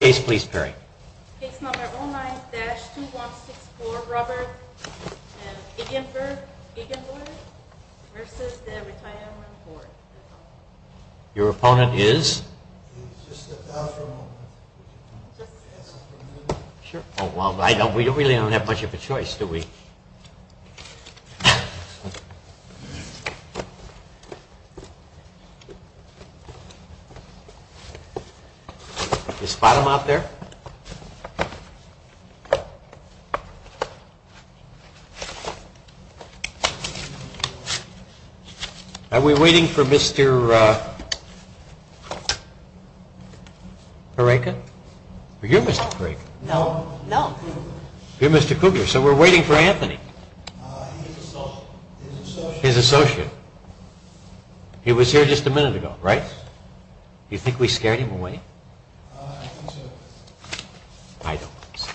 Case please Perry. Case number 09-2164, Robert Egenberg v. The Retirement Board. Your opponent is? We really don't have much of a choice do we? Is bottom up there? Are we waiting for Mr. Kugler? No. You're Mr. Kugler, so we're waiting for Anthony. He's an associate. He's an associate. He was here just a minute ago, right? Yes. You think we scared him away? I think so. I don't think so.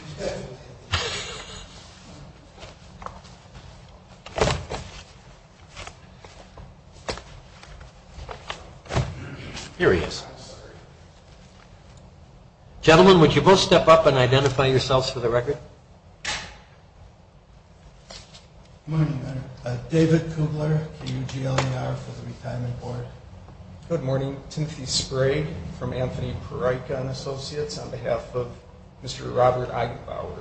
Here he is. I'm sorry. Gentlemen, would you both step up and identify yourselves for the record? David Kugler, K-U-G-L-E-R, for the Retirement Board. Good morning. Timothy Sprade from Anthony Perica and Associates on behalf of Mr. Robert Eigenbauer.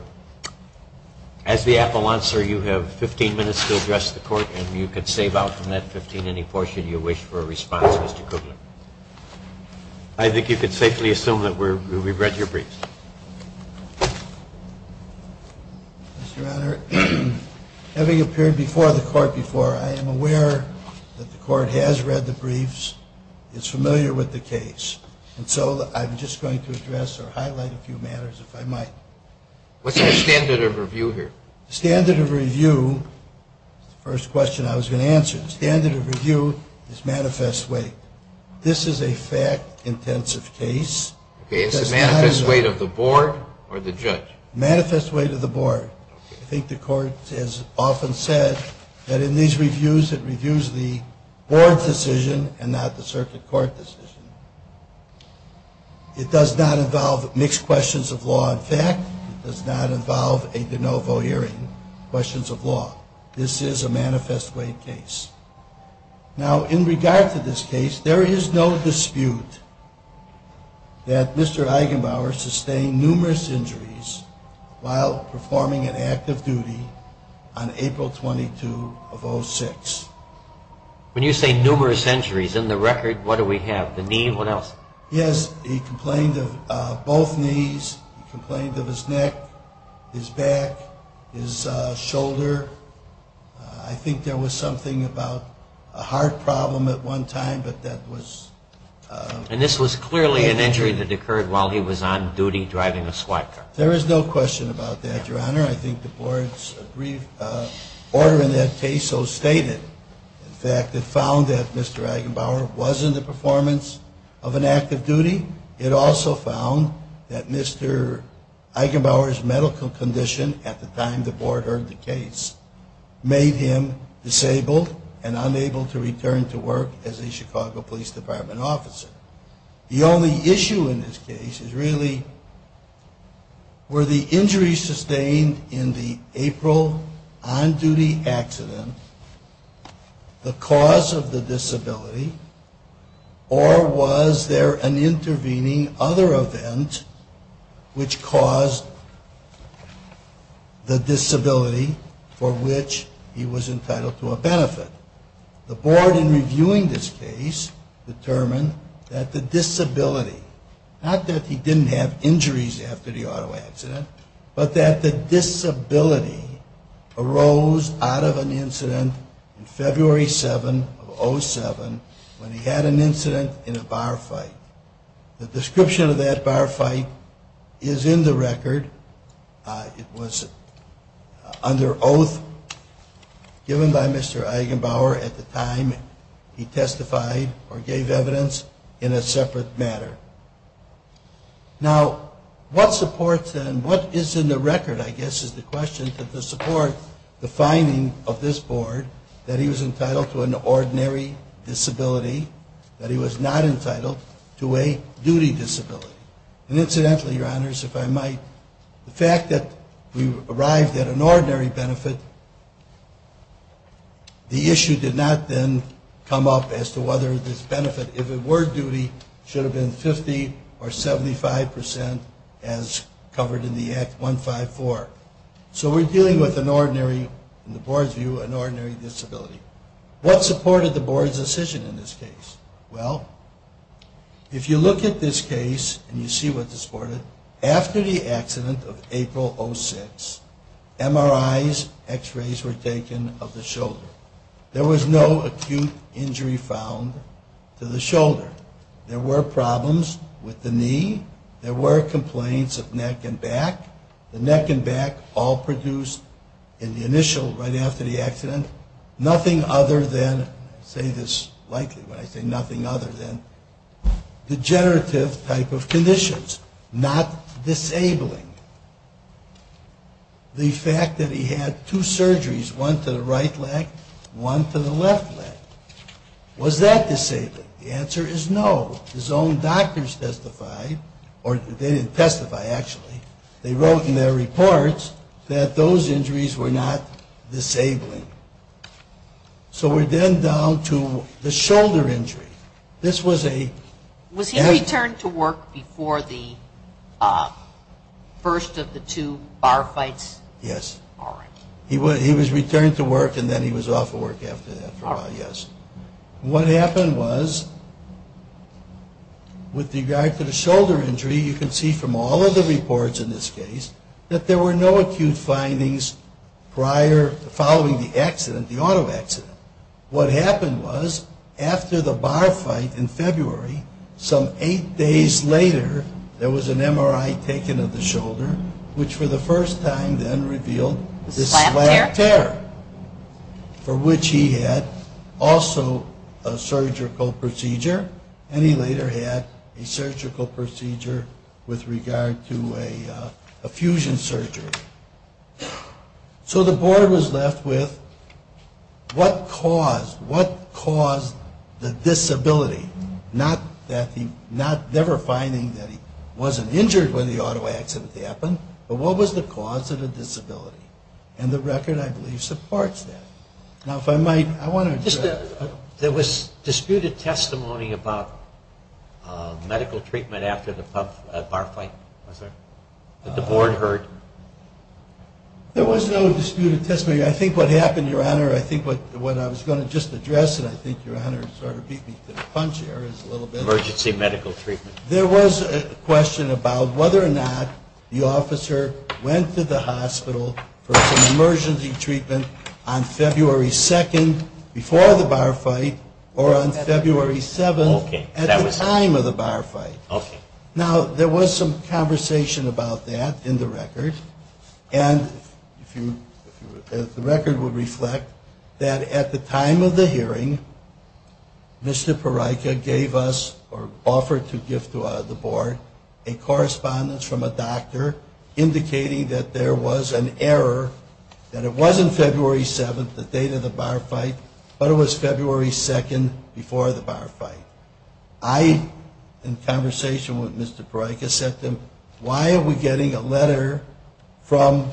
As the appellant, sir, you have 15 minutes to address the court and you can save out from that 15 any portion you wish for a response, Mr. Kugler. I think you can safely assume that we've read your briefs. Mr. Honor, having appeared before the court before, I am aware that the court has read the briefs, is familiar with the case, and so I'm just going to address or highlight a few matters, if I might. What's the standard of review here? The standard of review is the first question I was going to answer. The standard of review is manifest weight. This is a fact-intensive case. Okay, it's the manifest weight of the board or the judge? Manifest weight of the board. I think the court has often said that in these reviews, it reviews the board's decision and not the circuit court decision. It does not involve mixed questions of law and fact. It does not involve a de novo hearing, questions of law. This is a manifest weight case. Now, in regard to this case, there is no dispute that Mr. Eigenbauer sustained numerous injuries while performing an active duty on April 22 of 06. When you say numerous injuries, in the record, what do we have? The knee, what else? Yes, he complained of both knees. He complained of his neck, his back, his shoulder. I think there was something about a heart problem at one time, but that was... And this was clearly an injury that occurred while he was on duty driving a SWAT car. There is no question about that, Your Honor. I think the board's brief order in that case so stated. In fact, it found that Mr. Eigenbauer was in the performance of an active duty. It also found that Mr. Eigenbauer's medical condition at the time the board heard the case made him disabled and unable to return to work as a Chicago Police Department officer. The only issue in this case is really were the injuries sustained in the April on-duty accident the cause of the disability or was there an intervening other event which caused the disability for which he was entitled to a benefit? The board in reviewing this case determined that the disability, not that he didn't have injuries after the auto accident, but that the disability arose out of an incident in February 7 of 07 when he had an incident in a bar fight. The description of that bar fight is in the record. It was under oath given by Mr. Eigenbauer at the time he testified or gave evidence in a separate matter. Now, what supports and what is in the record, I guess, is the question to support the finding of this board that he was entitled to an ordinary disability, that he was not entitled to a duty disability. And incidentally, your honors, if I might, the fact that we arrived at an ordinary benefit, the issue did not then come up as to whether this benefit, if it were duty, should have been 50 or 75 percent as covered in the Act 154. So we're dealing with an ordinary, in the board's view, an ordinary disability. What supported the board's decision in this case? Well, if you look at this case and you see what supported it, after the accident of April 06, MRIs, x-rays were taken of the shoulder. There was no acute injury found to the shoulder. There were problems with the knee. There were complaints of neck and back. The neck and back all produced in the initial, right after the accident, nothing other than, I say this lightly when I say nothing other than degenerative type of conditions, not disabling. The fact that he had two surgeries, one to the right leg, one to the left leg. Was that disabled? The answer is no. His own doctors testified, or they didn't testify actually, they wrote in their reports that those injuries were not disabling. So we're then down to the shoulder injury. This was a... Was he returned to work before the first of the two bar fights? Yes. All right. He was returned to work and then he was off of work after that. All right. What happened was, with regard to the shoulder injury, you can see from all of the reports in this case, that there were no acute findings prior, following the accident, the auto accident. What happened was, after the bar fight in February, some eight days later, there was an MRI taken of the shoulder, which for the first time then revealed this slab tear. Slab tear? Also a surgical procedure. And he later had a surgical procedure with regard to a fusion surgery. So the board was left with, what caused the disability? Not never finding that he wasn't injured when the auto accident happened, but what was the cause of the disability? And the record, I believe, supports that. Now, if I might, I want to address... There was disputed testimony about medical treatment after the bar fight, was there, that the board heard? There was no disputed testimony. I think what happened, Your Honor, I think what I was going to just address, and I think Your Honor sort of beat me to the punch there, is a little bit... Emergency medical treatment. There was a question about whether or not the officer went to the hospital for some emergency treatment on February 2nd before the bar fight, or on February 7th at the time of the bar fight. Okay. Now, there was some conversation about that in the record. And the record would reflect that at the time of the hearing, Mr. Parryka gave us, or offered to give to the board, a correspondence from a doctor indicating that there was an error, that it wasn't February 7th, the date of the bar fight, but it was February 2nd before the bar fight. I, in conversation with Mr. Parryka, said to him, why are we getting a letter from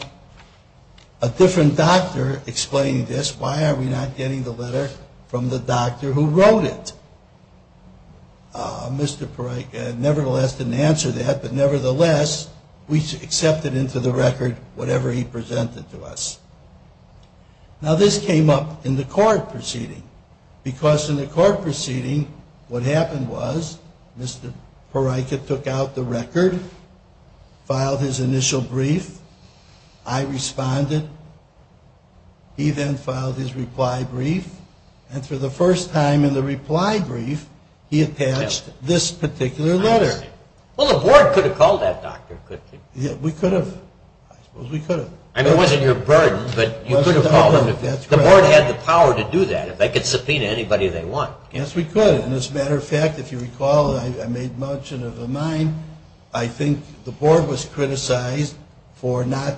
a different doctor explaining this? Why are we not getting the letter from the doctor who wrote it? Mr. Parryka nevertheless didn't answer that, but nevertheless, we accepted into the record whatever he presented to us. Now, this came up in the court proceeding. Because in the court proceeding, what happened was, Mr. Parryka took out the record, filed his initial brief, I responded, he then filed his reply brief, and for the first time in the reply brief, he attached this particular letter. Well, the board could have called that doctor, couldn't they? Yeah, we could have. I suppose we could have. I mean, it wasn't your burden, but you could have called him. That's correct. The board had the power to do that. They could subpoena anybody they want. Yes, we could. And as a matter of fact, if you recall, I made mention of a mine. I think the board was criticized for not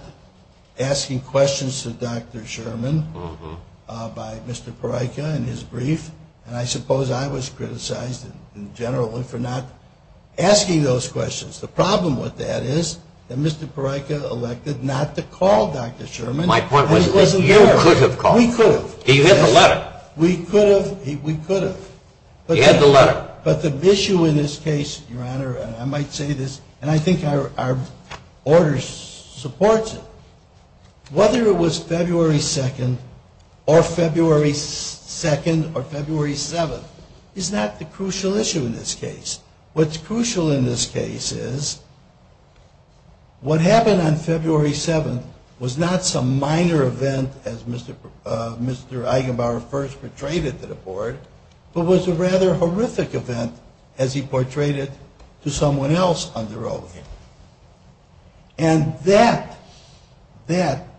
asking questions to Dr. Sherman by Mr. Parryka in his brief, and I suppose I was criticized in general for not asking those questions. The problem with that is that Mr. Parryka elected not to call Dr. Sherman. My point was that you could have called him. We could have. He had the letter. We could have. He had the letter. But the issue in this case, Your Honor, and I might say this, and I think our order supports it, whether it was February 2nd or February 2nd or February 7th is not the crucial issue in this case. What's crucial in this case is what happened on February 7th was not some minor event as Mr. Eigenbauer first portrayed it to the board, but was a rather horrific event as he portrayed it to someone else under oath. And that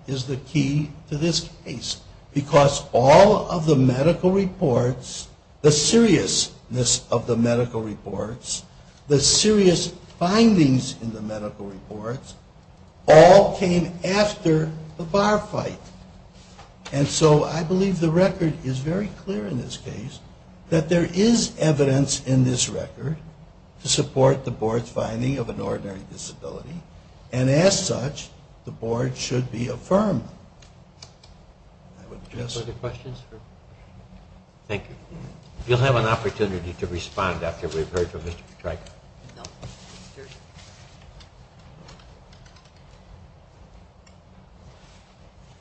is the key to this case, because all of the medical reports, the seriousness of the medical reports, the serious findings in the medical reports, all came after the bar fight. And so I believe the record is very clear in this case that there is evidence in this record to support the board's finding of an ordinary disability, and as such, the board should be affirmed. Any further questions? Thank you. You'll have an opportunity to respond after we've heard from Mr. Patryka.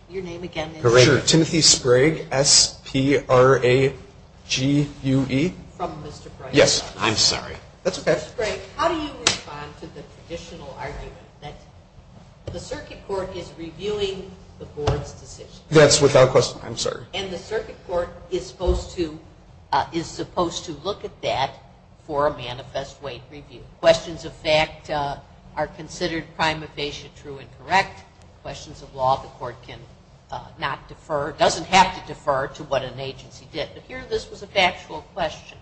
Your name again? Sure. Timothy Sprague. S-P-R-A-G-U-E. From Mr. Sprague. Yes. I'm sorry. That's okay. Mr. Sprague, how do you respond to the traditional argument that the circuit court is reviewing the board's decision? That's without question. And the circuit court is supposed to look at that for a manifest way to make a decision. Questions of fact are considered prima facie true and correct. Questions of law the court can not defer, doesn't have to defer to what an agency did. But here this was a factual question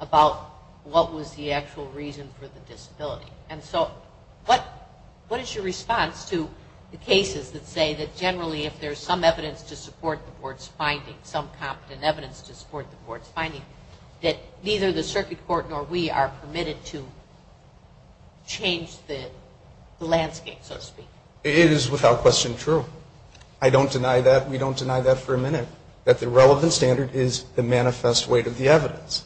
about what was the actual reason for the disability. And so what is your response to the cases that say that generally if there's some evidence to support the board's finding, some competent evidence to support the board's finding, that neither the circuit court nor we are permitted to change the landscape, so to speak? It is without question true. I don't deny that. We don't deny that for a minute, that the relevant standard is the manifest weight of the evidence.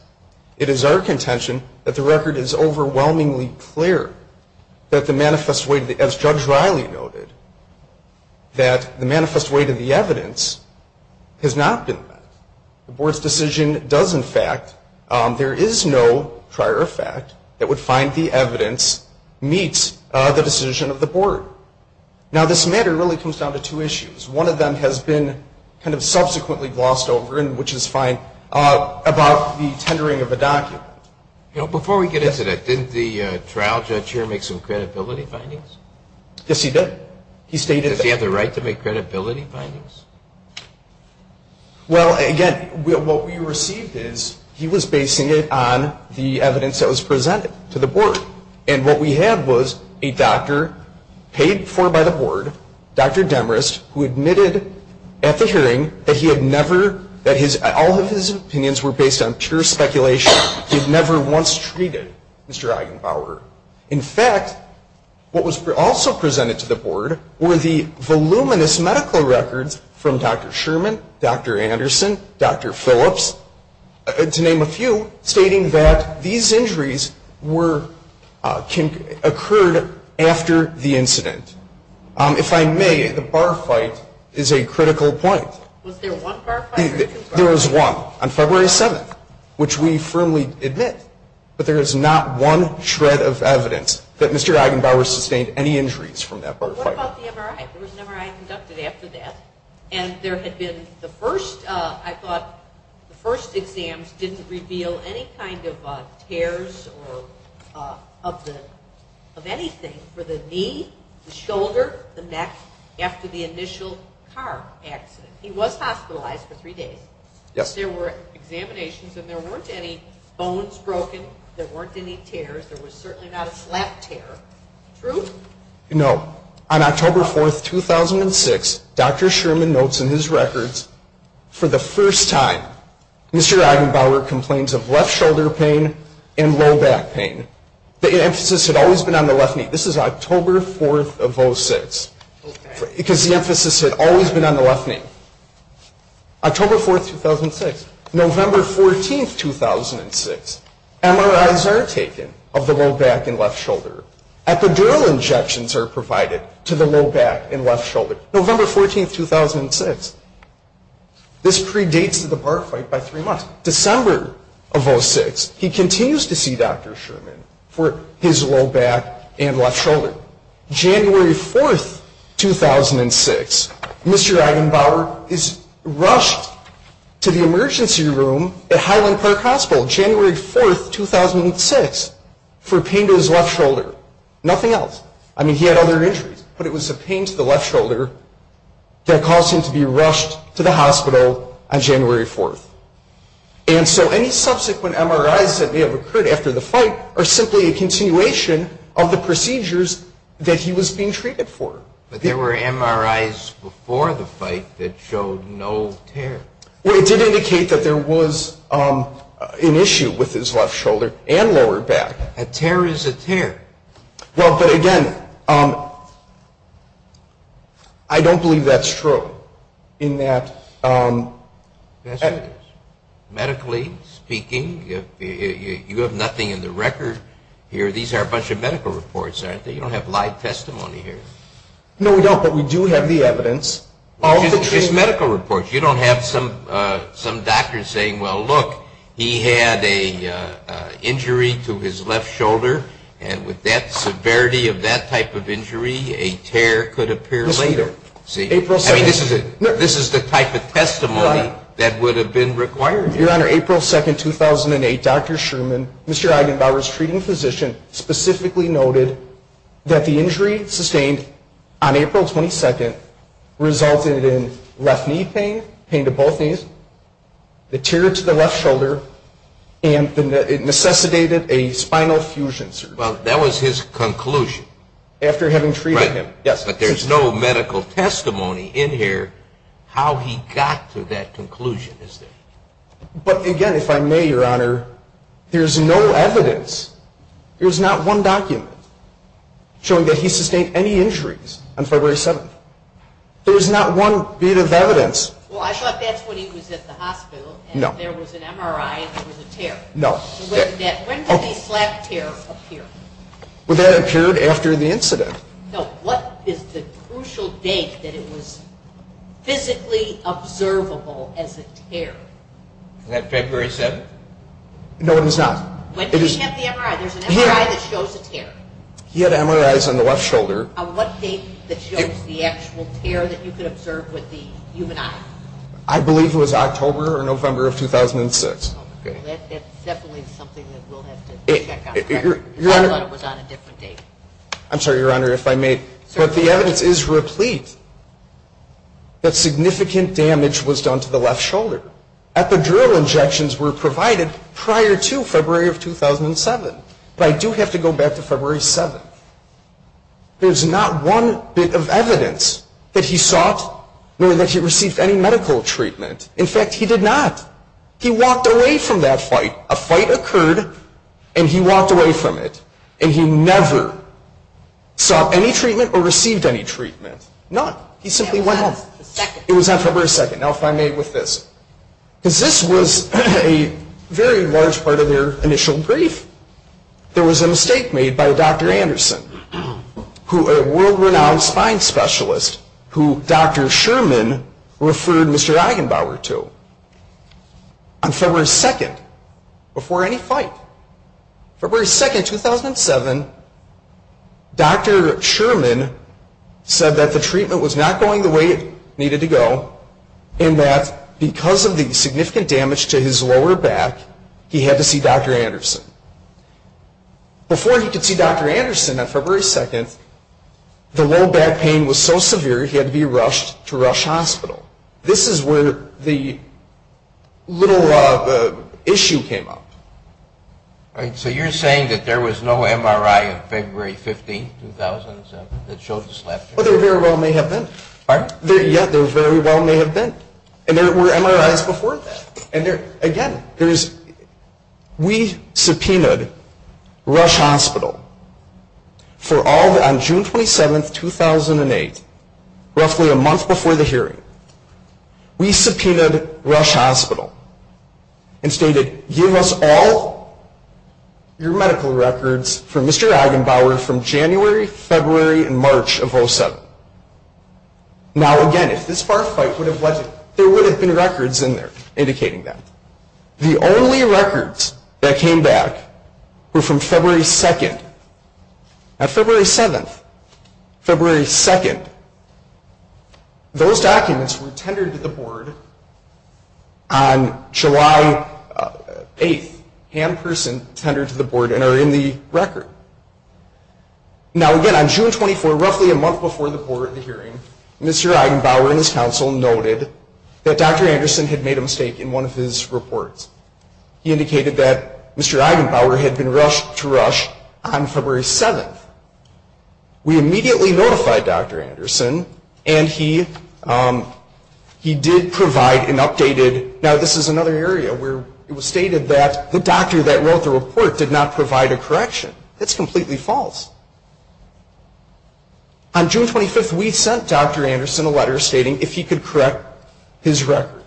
It is our contention that the record is overwhelmingly clear that the manifest weight, as Judge Riley noted, that the manifest weight of the evidence has not been met. The board's decision does, in fact, there is no prior fact that would find the evidence meets the decision of the board. Now, this matter really comes down to two issues. One of them has been kind of subsequently glossed over, which is fine, about the tendering of a document. Before we get into that, didn't the trial judge here make some credibility findings? Yes, he did. Does he have the right to make credibility findings? Well, again, what we received is he was basing it on the evidence that was presented to the board. And what we had was a doctor paid for by the board, Dr. Demarest, who admitted at the hearing that all of his opinions were based on pure speculation. He had never once treated Mr. Eigenbauer. In fact, what was also presented to the board were the voluminous medical records from Dr. Sherman, Dr. Anderson, Dr. Phillips, to name a few, stating that these injuries occurred after the incident. If I may, the bar fight is a critical point. Was there one bar fight? There was one on February 7th, which we firmly admit. But there is not one shred of evidence that Mr. Eigenbauer sustained any injuries from that bar fight. What about the MRI? There was an MRI conducted after that. And there had been the first, I thought, the first exams didn't reveal any kind of tears or of anything for the knee, the shoulder, the neck, after the initial car accident. He was hospitalized for three days. Yes. But there were examinations, and there weren't any bones broken. There weren't any tears. There was certainly not a slap tear. True? No. On October 4th, 2006, Dr. Sherman notes in his records, for the first time, Mr. Eigenbauer complains of left shoulder pain and low back pain. The emphasis had always been on the left knee. This is October 4th of 06. Because the emphasis had always been on the left knee. October 4th, 2006. November 14th, 2006. MRIs are taken of the low back and left shoulder. Epidural injections are provided to the low back and left shoulder. November 14th, 2006. This predates the bar fight by three months. December of 06, he continues to see Dr. Sherman for his low back and left shoulder. January 4th, 2006. Mr. Eigenbauer is rushed to the emergency room at Highland Park Hospital, January 4th, 2006, for pain to his left shoulder. Nothing else. I mean, he had other injuries, but it was the pain to the left shoulder that caused him to be rushed to the hospital on January 4th. And so any subsequent MRIs that may have occurred after the fight are simply a continuation of the procedures that he was being treated for. But there were MRIs before the fight that showed no tear. Well, it did indicate that there was an issue with his left shoulder and lower back. A tear is a tear. Well, but again, I don't believe that's true. Medically speaking, you have nothing in the record here. These are a bunch of medical reports, aren't they? You don't have live testimony here. No, we don't, but we do have the evidence. It's just medical reports. You don't have some doctor saying, well, look, he had an injury to his left shoulder, and with that severity of that type of injury, a tear could appear later. I mean, this is the type of testimony that would have been required. Your Honor, April 2, 2008, Dr. Sherman, Mr. Eigenbauer's treating physician, specifically noted that the injury sustained on April 22nd resulted in left knee pain, pain to both knees, the tear to the left shoulder, and it necessitated a spinal fusion surgery. Well, that was his conclusion. After having treated him, yes. But there's no medical testimony in here how he got to that conclusion, is there? But, again, if I may, Your Honor, there's no evidence. There's not one document showing that he sustained any injuries on February 7th. There's not one bit of evidence. Well, I thought that's when he was at the hospital and there was an MRI and there was a tear. No. When did the slap tear appear? Well, that appeared after the incident. No. What is the crucial date that it was physically observable as a tear? Was that February 7th? No, it was not. When did he have the MRI? There's an MRI that shows a tear. He had MRIs on the left shoulder. On what date that shows the actual tear that you could observe with the human eye? I believe it was October or November of 2006. Okay. That's definitely something that we'll have to check on. I thought it was on a different date. I'm sorry, Your Honor, if I may, but the evidence is replete that significant damage was done to the left shoulder. Epidural injections were provided prior to February of 2007. But I do have to go back to February 7th. There's not one bit of evidence that he sought nor that he received any medical treatment. In fact, he did not. He walked away from that fight. A fight occurred, and he walked away from it. And he never sought any treatment or received any treatment, none. He simply went home. It was on February 2nd. It was on February 2nd. Now, if I may, with this. Because this was a very large part of their initial brief. There was a mistake made by Dr. Anderson, a world-renowned spine specialist who Dr. Sherman referred Mr. Eigenbauer to. On February 2nd, before any fight, February 2nd, 2007, Dr. Sherman said that the treatment was not going the way it needed to go, and that because of the significant damage to his lower back, he had to see Dr. Anderson. Before he could see Dr. Anderson on February 2nd, the low back pain was so severe, he had to be rushed to Rush Hospital. This is where the little issue came up. All right. So you're saying that there was no MRI on February 15th, 2007, that showed this left? Well, there very well may have been. All right. Yeah, there very well may have been. And there were MRIs before that. And there, again, there's, we subpoenaed Rush Hospital for all, on June 27th, 2008, roughly a month before the hearing. We subpoenaed Rush Hospital and stated, give us all your medical records for Mr. Eigenbauer from January, February, and March of 2007. Now, again, if this bar fight would have led to, there would have been records in there indicating that. The only records that came back were from February 2nd. On February 7th, February 2nd, those documents were tendered to the board on July 8th, hand-person tendered to the board and are in the record. Now, again, on June 24th, roughly a month before the board hearing, Mr. Eigenbauer and his counsel noted that Dr. Anderson had made a mistake in one of his reports. He indicated that Mr. Eigenbauer had been rushed to Rush on February 7th. We immediately notified Dr. Anderson, and he did provide an updated, now this is another area where it was stated that the doctor that wrote the report did not provide a correction. That's completely false. On June 25th, we sent Dr. Anderson a letter stating if he could correct his record.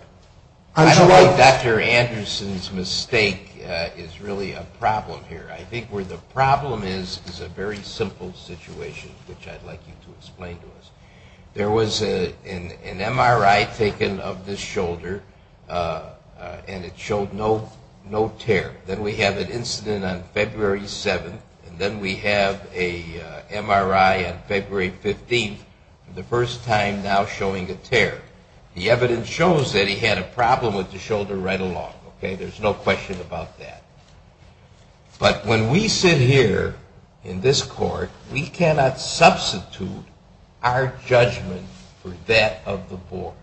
I don't think Dr. Anderson's mistake is really a problem here. I think where the problem is is a very simple situation, which I'd like you to explain to us. There was an MRI taken of this shoulder, and it showed no tear. Then we have an incident on February 7th, and then we have an MRI on February 15th, the first time now showing a tear. The evidence shows that he had a problem with the shoulder right along. There's no question about that. But when we sit here in this court, we cannot substitute our judgment for that of the board.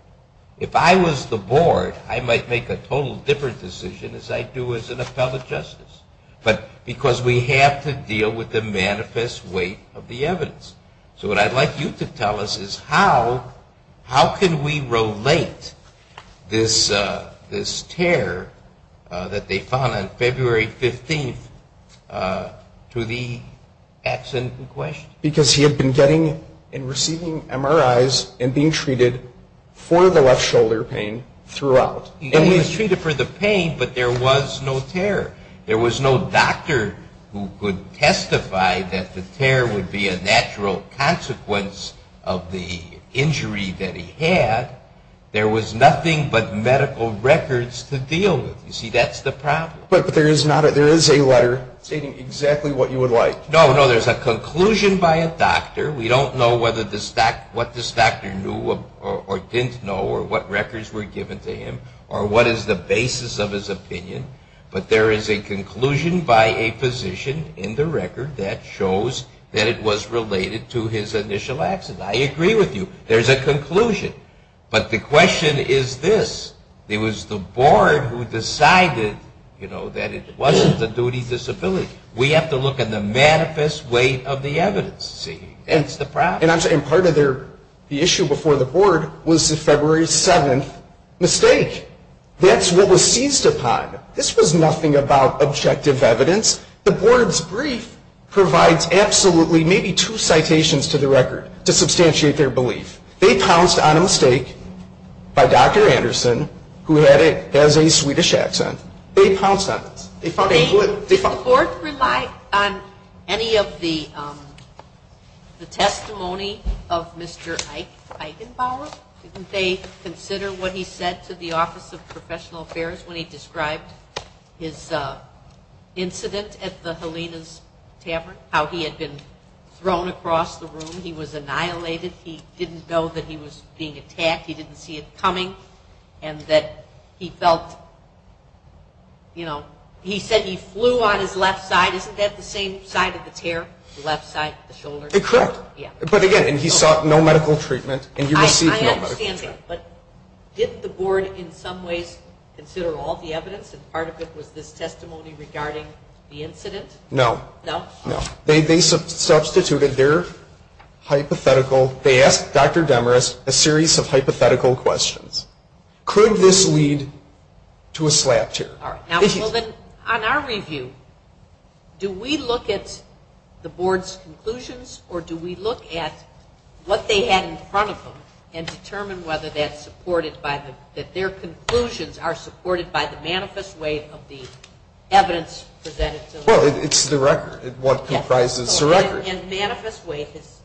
If I was the board, I might make a totally different decision as I do as an appellate justice, but because we have to deal with the manifest weight of the evidence. So what I'd like you to tell us is how can we relate this tear that they found on February 15th to the accident in question? Because he had been getting and receiving MRIs and being treated for the left shoulder pain throughout. He was treated for the pain, but there was no tear. There was no doctor who could testify that the tear would be a natural consequence of the injury that he had. There was nothing but medical records to deal with. You see, that's the problem. But there is a letter stating exactly what you would like. No, no, there's a conclusion by a doctor. We don't know what this doctor knew or didn't know or what records were given to him or what is the basis of his opinion. But there is a conclusion by a physician in the record that shows that it was related to his initial accident. I agree with you. There's a conclusion. But the question is this. It was the board who decided, you know, that it wasn't the duty disability. We have to look at the manifest weight of the evidence. See, that's the problem. And part of the issue before the board was the February 7th mistake. That's what was seized upon. This was nothing about objective evidence. The board's brief provides absolutely maybe two citations to the record to substantiate their belief. They pounced on a mistake by Dr. Anderson, who has a Swedish accent. They pounced on this. The board relied on any of the testimony of Mr. Eichenbauer. Didn't they consider what he said to the Office of Professional Affairs when he described his incident at the Helena's Tavern, how he had been thrown across the room, he was annihilated, he didn't know that he was being attacked, he didn't see it coming, and that he felt, you know, he said he flew on his left side. Isn't that the same side of the tear, the left side of the shoulder? Correct. Yeah. But again, he sought no medical treatment and he received no medical treatment. I understand that. But didn't the board in some ways consider all the evidence and part of it was this testimony regarding the incident? No. No? No. They substituted their hypothetical. They asked Dr. Demarest a series of hypothetical questions. Could this lead to a slap tear? All right. Well, then, on our review, do we look at the board's conclusions or do we look at what they had in front of them and determine whether that's supported by the, Well, it's the record, what comprises the record. And manifest weight is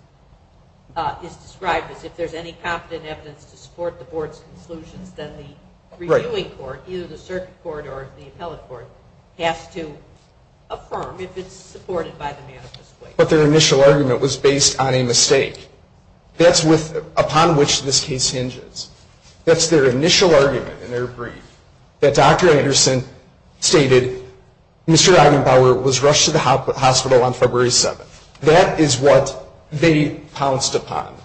described as if there's any competent evidence to support the board's conclusions, then the reviewing court, either the circuit court or the appellate court, has to affirm if it's supported by the manifest weight. But their initial argument was based on a mistake. That's upon which this case hinges. That's their initial argument in their brief that Dr. Anderson stated, Mr. Eisenbauer was rushed to the hospital on February 7th. That is what they pounced upon,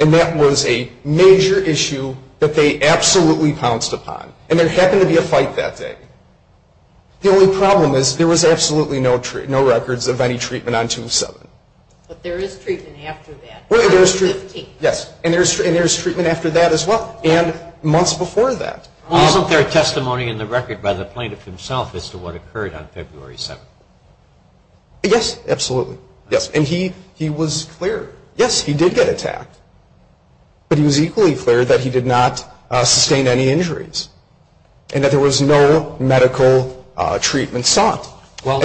and that was a major issue that they absolutely pounced upon. And there happened to be a fight that day. The only problem is there was absolutely no records of any treatment on June 7th. But there is treatment after that. Yes, and there's treatment after that as well and months before that. Well, isn't there a testimony in the record by the plaintiff himself as to what occurred on February 7th? Yes, absolutely. Yes, and he was clear. Yes, he did get attacked, but he was equally clear that he did not sustain any injuries and that there was no medical treatment sought. Now,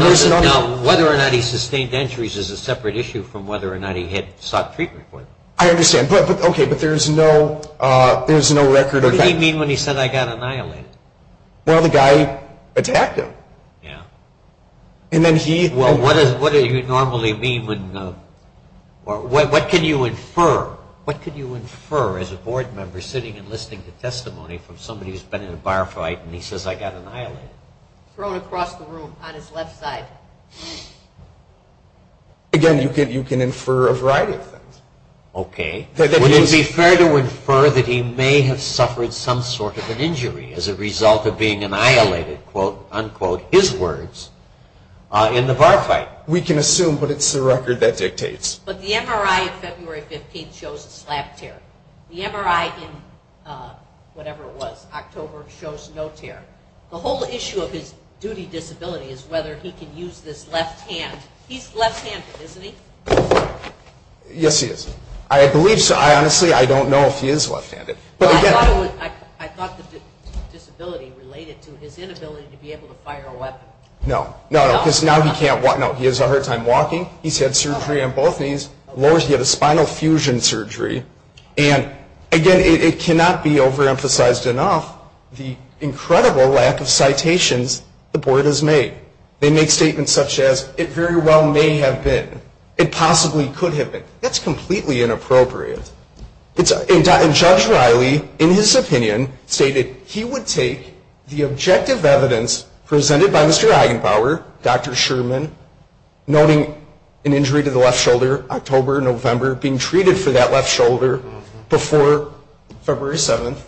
whether or not he sustained injuries is a separate issue from whether or not he had sought treatment for them. I understand. Okay, but there's no record of that. What did he mean when he said, I got annihilated? Well, the guy attacked him. Yes. And then he Well, what do you normally mean when What can you infer? What can you infer as a board member sitting and listening to testimony from somebody who's been in a bar fight and he says, I got annihilated? Thrown across the room on his left side. Again, you can infer a variety of things. Okay. Would it be fair to infer that he may have suffered some sort of an injury as a result of being annihilated, quote, unquote, his words, in the bar fight? We can assume, but it's the record that dictates. But the MRI of February 15th shows a slap tear. The MRI in whatever it was, October, shows no tear. The whole issue of his duty disability is whether he can use this left hand. He's left-handed, isn't he? Yes, he is. I believe so. Honestly, I don't know if he is left-handed. I thought the disability related to his inability to be able to fire a weapon. No. No, because now he can't walk. No, he has a hard time walking. He's had surgery on both knees. He had a spinal fusion surgery. And, again, it cannot be overemphasized enough the incredible lack of citations the board has made. They make statements such as, it very well may have been. It possibly could have been. That's completely inappropriate. And Judge Riley, in his opinion, stated he would take the objective evidence presented by Mr. Eigenpower, Dr. Sherman, noting an injury to the left shoulder, October, November, being treated for that left shoulder before February 7th,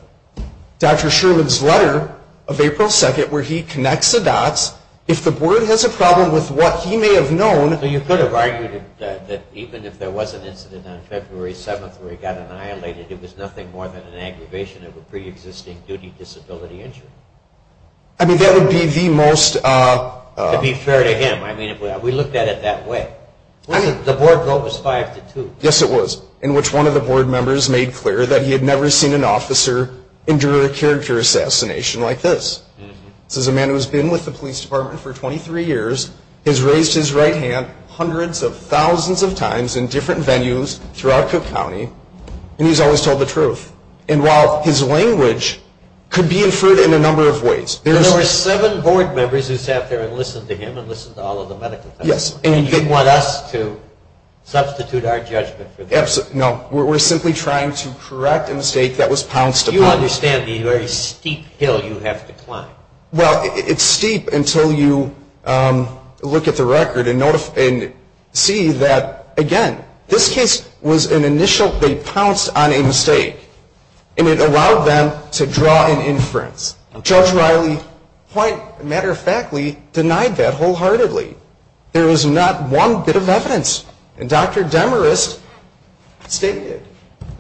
Dr. Sherman's letter of April 2nd where he connects the dots. If the board has a problem with what he may have known. You could have argued that even if there was an incident on February 7th where he got annihilated, it was nothing more than an aggravation of a preexisting duty disability injury. I mean, that would be the most. To be fair to him. I mean, we looked at it that way. The board vote was 5-2. Yes, it was, in which one of the board members made clear that he had never seen an officer endure a character assassination like this. This is a man who has been with the police department for 23 years, has raised his right hand hundreds of thousands of times in different venues throughout Cook County, and he's always told the truth. And while his language could be inferred in a number of ways. There were seven board members who sat there and listened to him and listened to all of the medical staff. Yes. And you want us to substitute our judgment for them. No, we're simply trying to correct a mistake that was pounced upon. Do you understand the very steep hill you have to climb? Well, it's steep until you look at the record and see that, again, this case was an initial, they pounced on a mistake, and it allowed them to draw an inference. Judge Riley, quite a matter of factly, denied that wholeheartedly. There was not one bit of evidence. And Dr. Demarest stated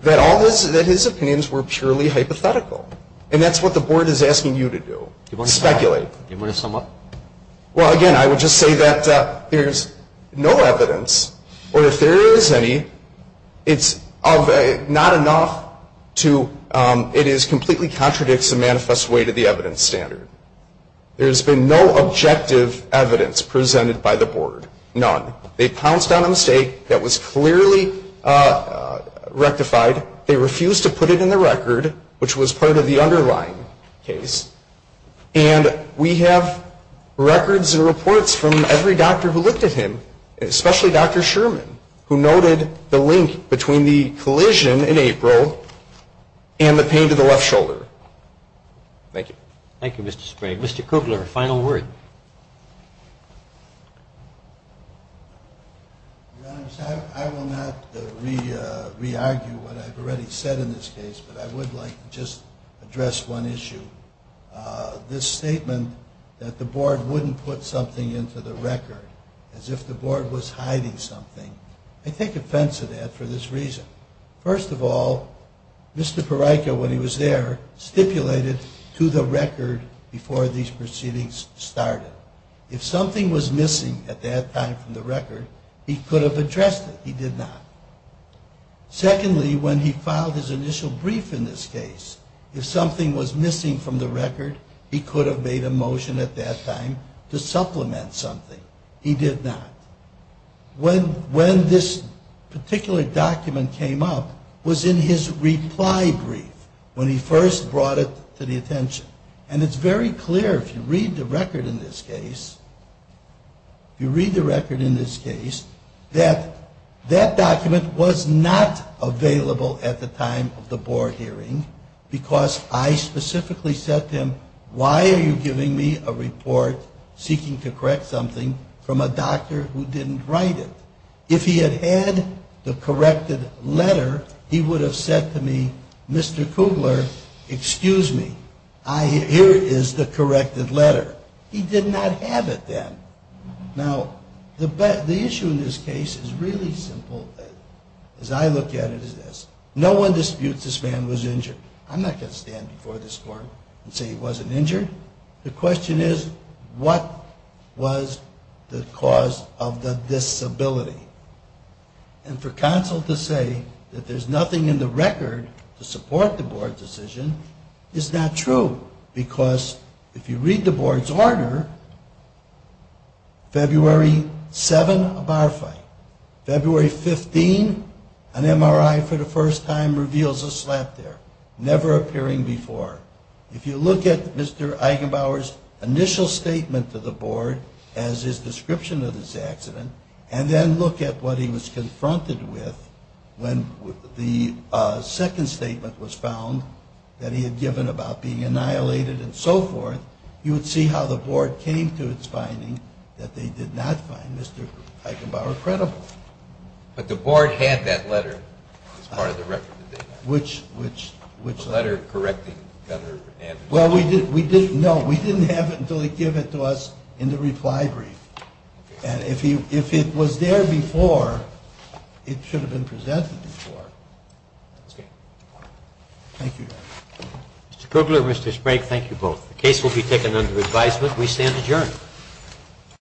that his opinions were purely hypothetical. And that's what the board is asking you to do, speculate. Do you want to sum up? Well, again, I would just say that there's no evidence, or if there is any, it's not enough to, it completely contradicts the manifest way to the evidence standard. There's been no objective evidence presented by the board, none. They pounced on a mistake that was clearly rectified. They refused to put it in the record, which was part of the underlying case. And we have records and reports from every doctor who looked at him, especially Dr. Sherman, who noted the link between the collision in April and the pain to the left shoulder. Thank you. Thank you, Mr. Sprague. Mr. Kugler, final word. Your Honor, I will not re-argue what I've already said in this case, but I would like to just address one issue. This statement that the board wouldn't put something into the record as if the board was hiding something, I take offense to that for this reason. First of all, Mr. Pereyka, when he was there, stipulated to the record before these proceedings started if something was missing at that time from the record, he could have addressed it. He did not. Secondly, when he filed his initial brief in this case, if something was missing from the record, he could have made a motion at that time to supplement something. He did not. When this particular document came up was in his reply brief when he first brought it to the attention. And it's very clear if you read the record in this case, if you read the record in this case, that that document was not available at the time of the board hearing because I specifically said to him, why are you giving me a report seeking to correct something from a doctor who didn't write it? If he had had the corrected letter, he would have said to me, Mr. Kugler, excuse me, here is the corrected letter. He did not have it then. Now, the issue in this case is really simple. As I look at it is this. No one disputes this man was injured. I'm not going to stand before this court and say he wasn't injured. The question is, what was the cause of the disability? And for counsel to say that there's nothing in the record to support the board's decision is not true because if you read the board's order, February 7, a bar fight. February 15, an MRI for the first time reveals a slap there. Never appearing before. If you look at Mr. Eigenbauer's initial statement to the board as his description of this accident and then look at what he was confronted with when the second statement was found that he had given about being annihilated and so forth, you would see how the board came to its finding that they did not find Mr. Eigenbauer credible. But the board had that letter as part of the record. Which letter? The letter correcting Governor Andrews. No, we didn't have it until he gave it to us in the reply brief. And if it was there before, it should have been presented before. Thank you. Mr. Kugler, Mr. Sprank, thank you both. The case will be taken under advisement. We stand adjourned.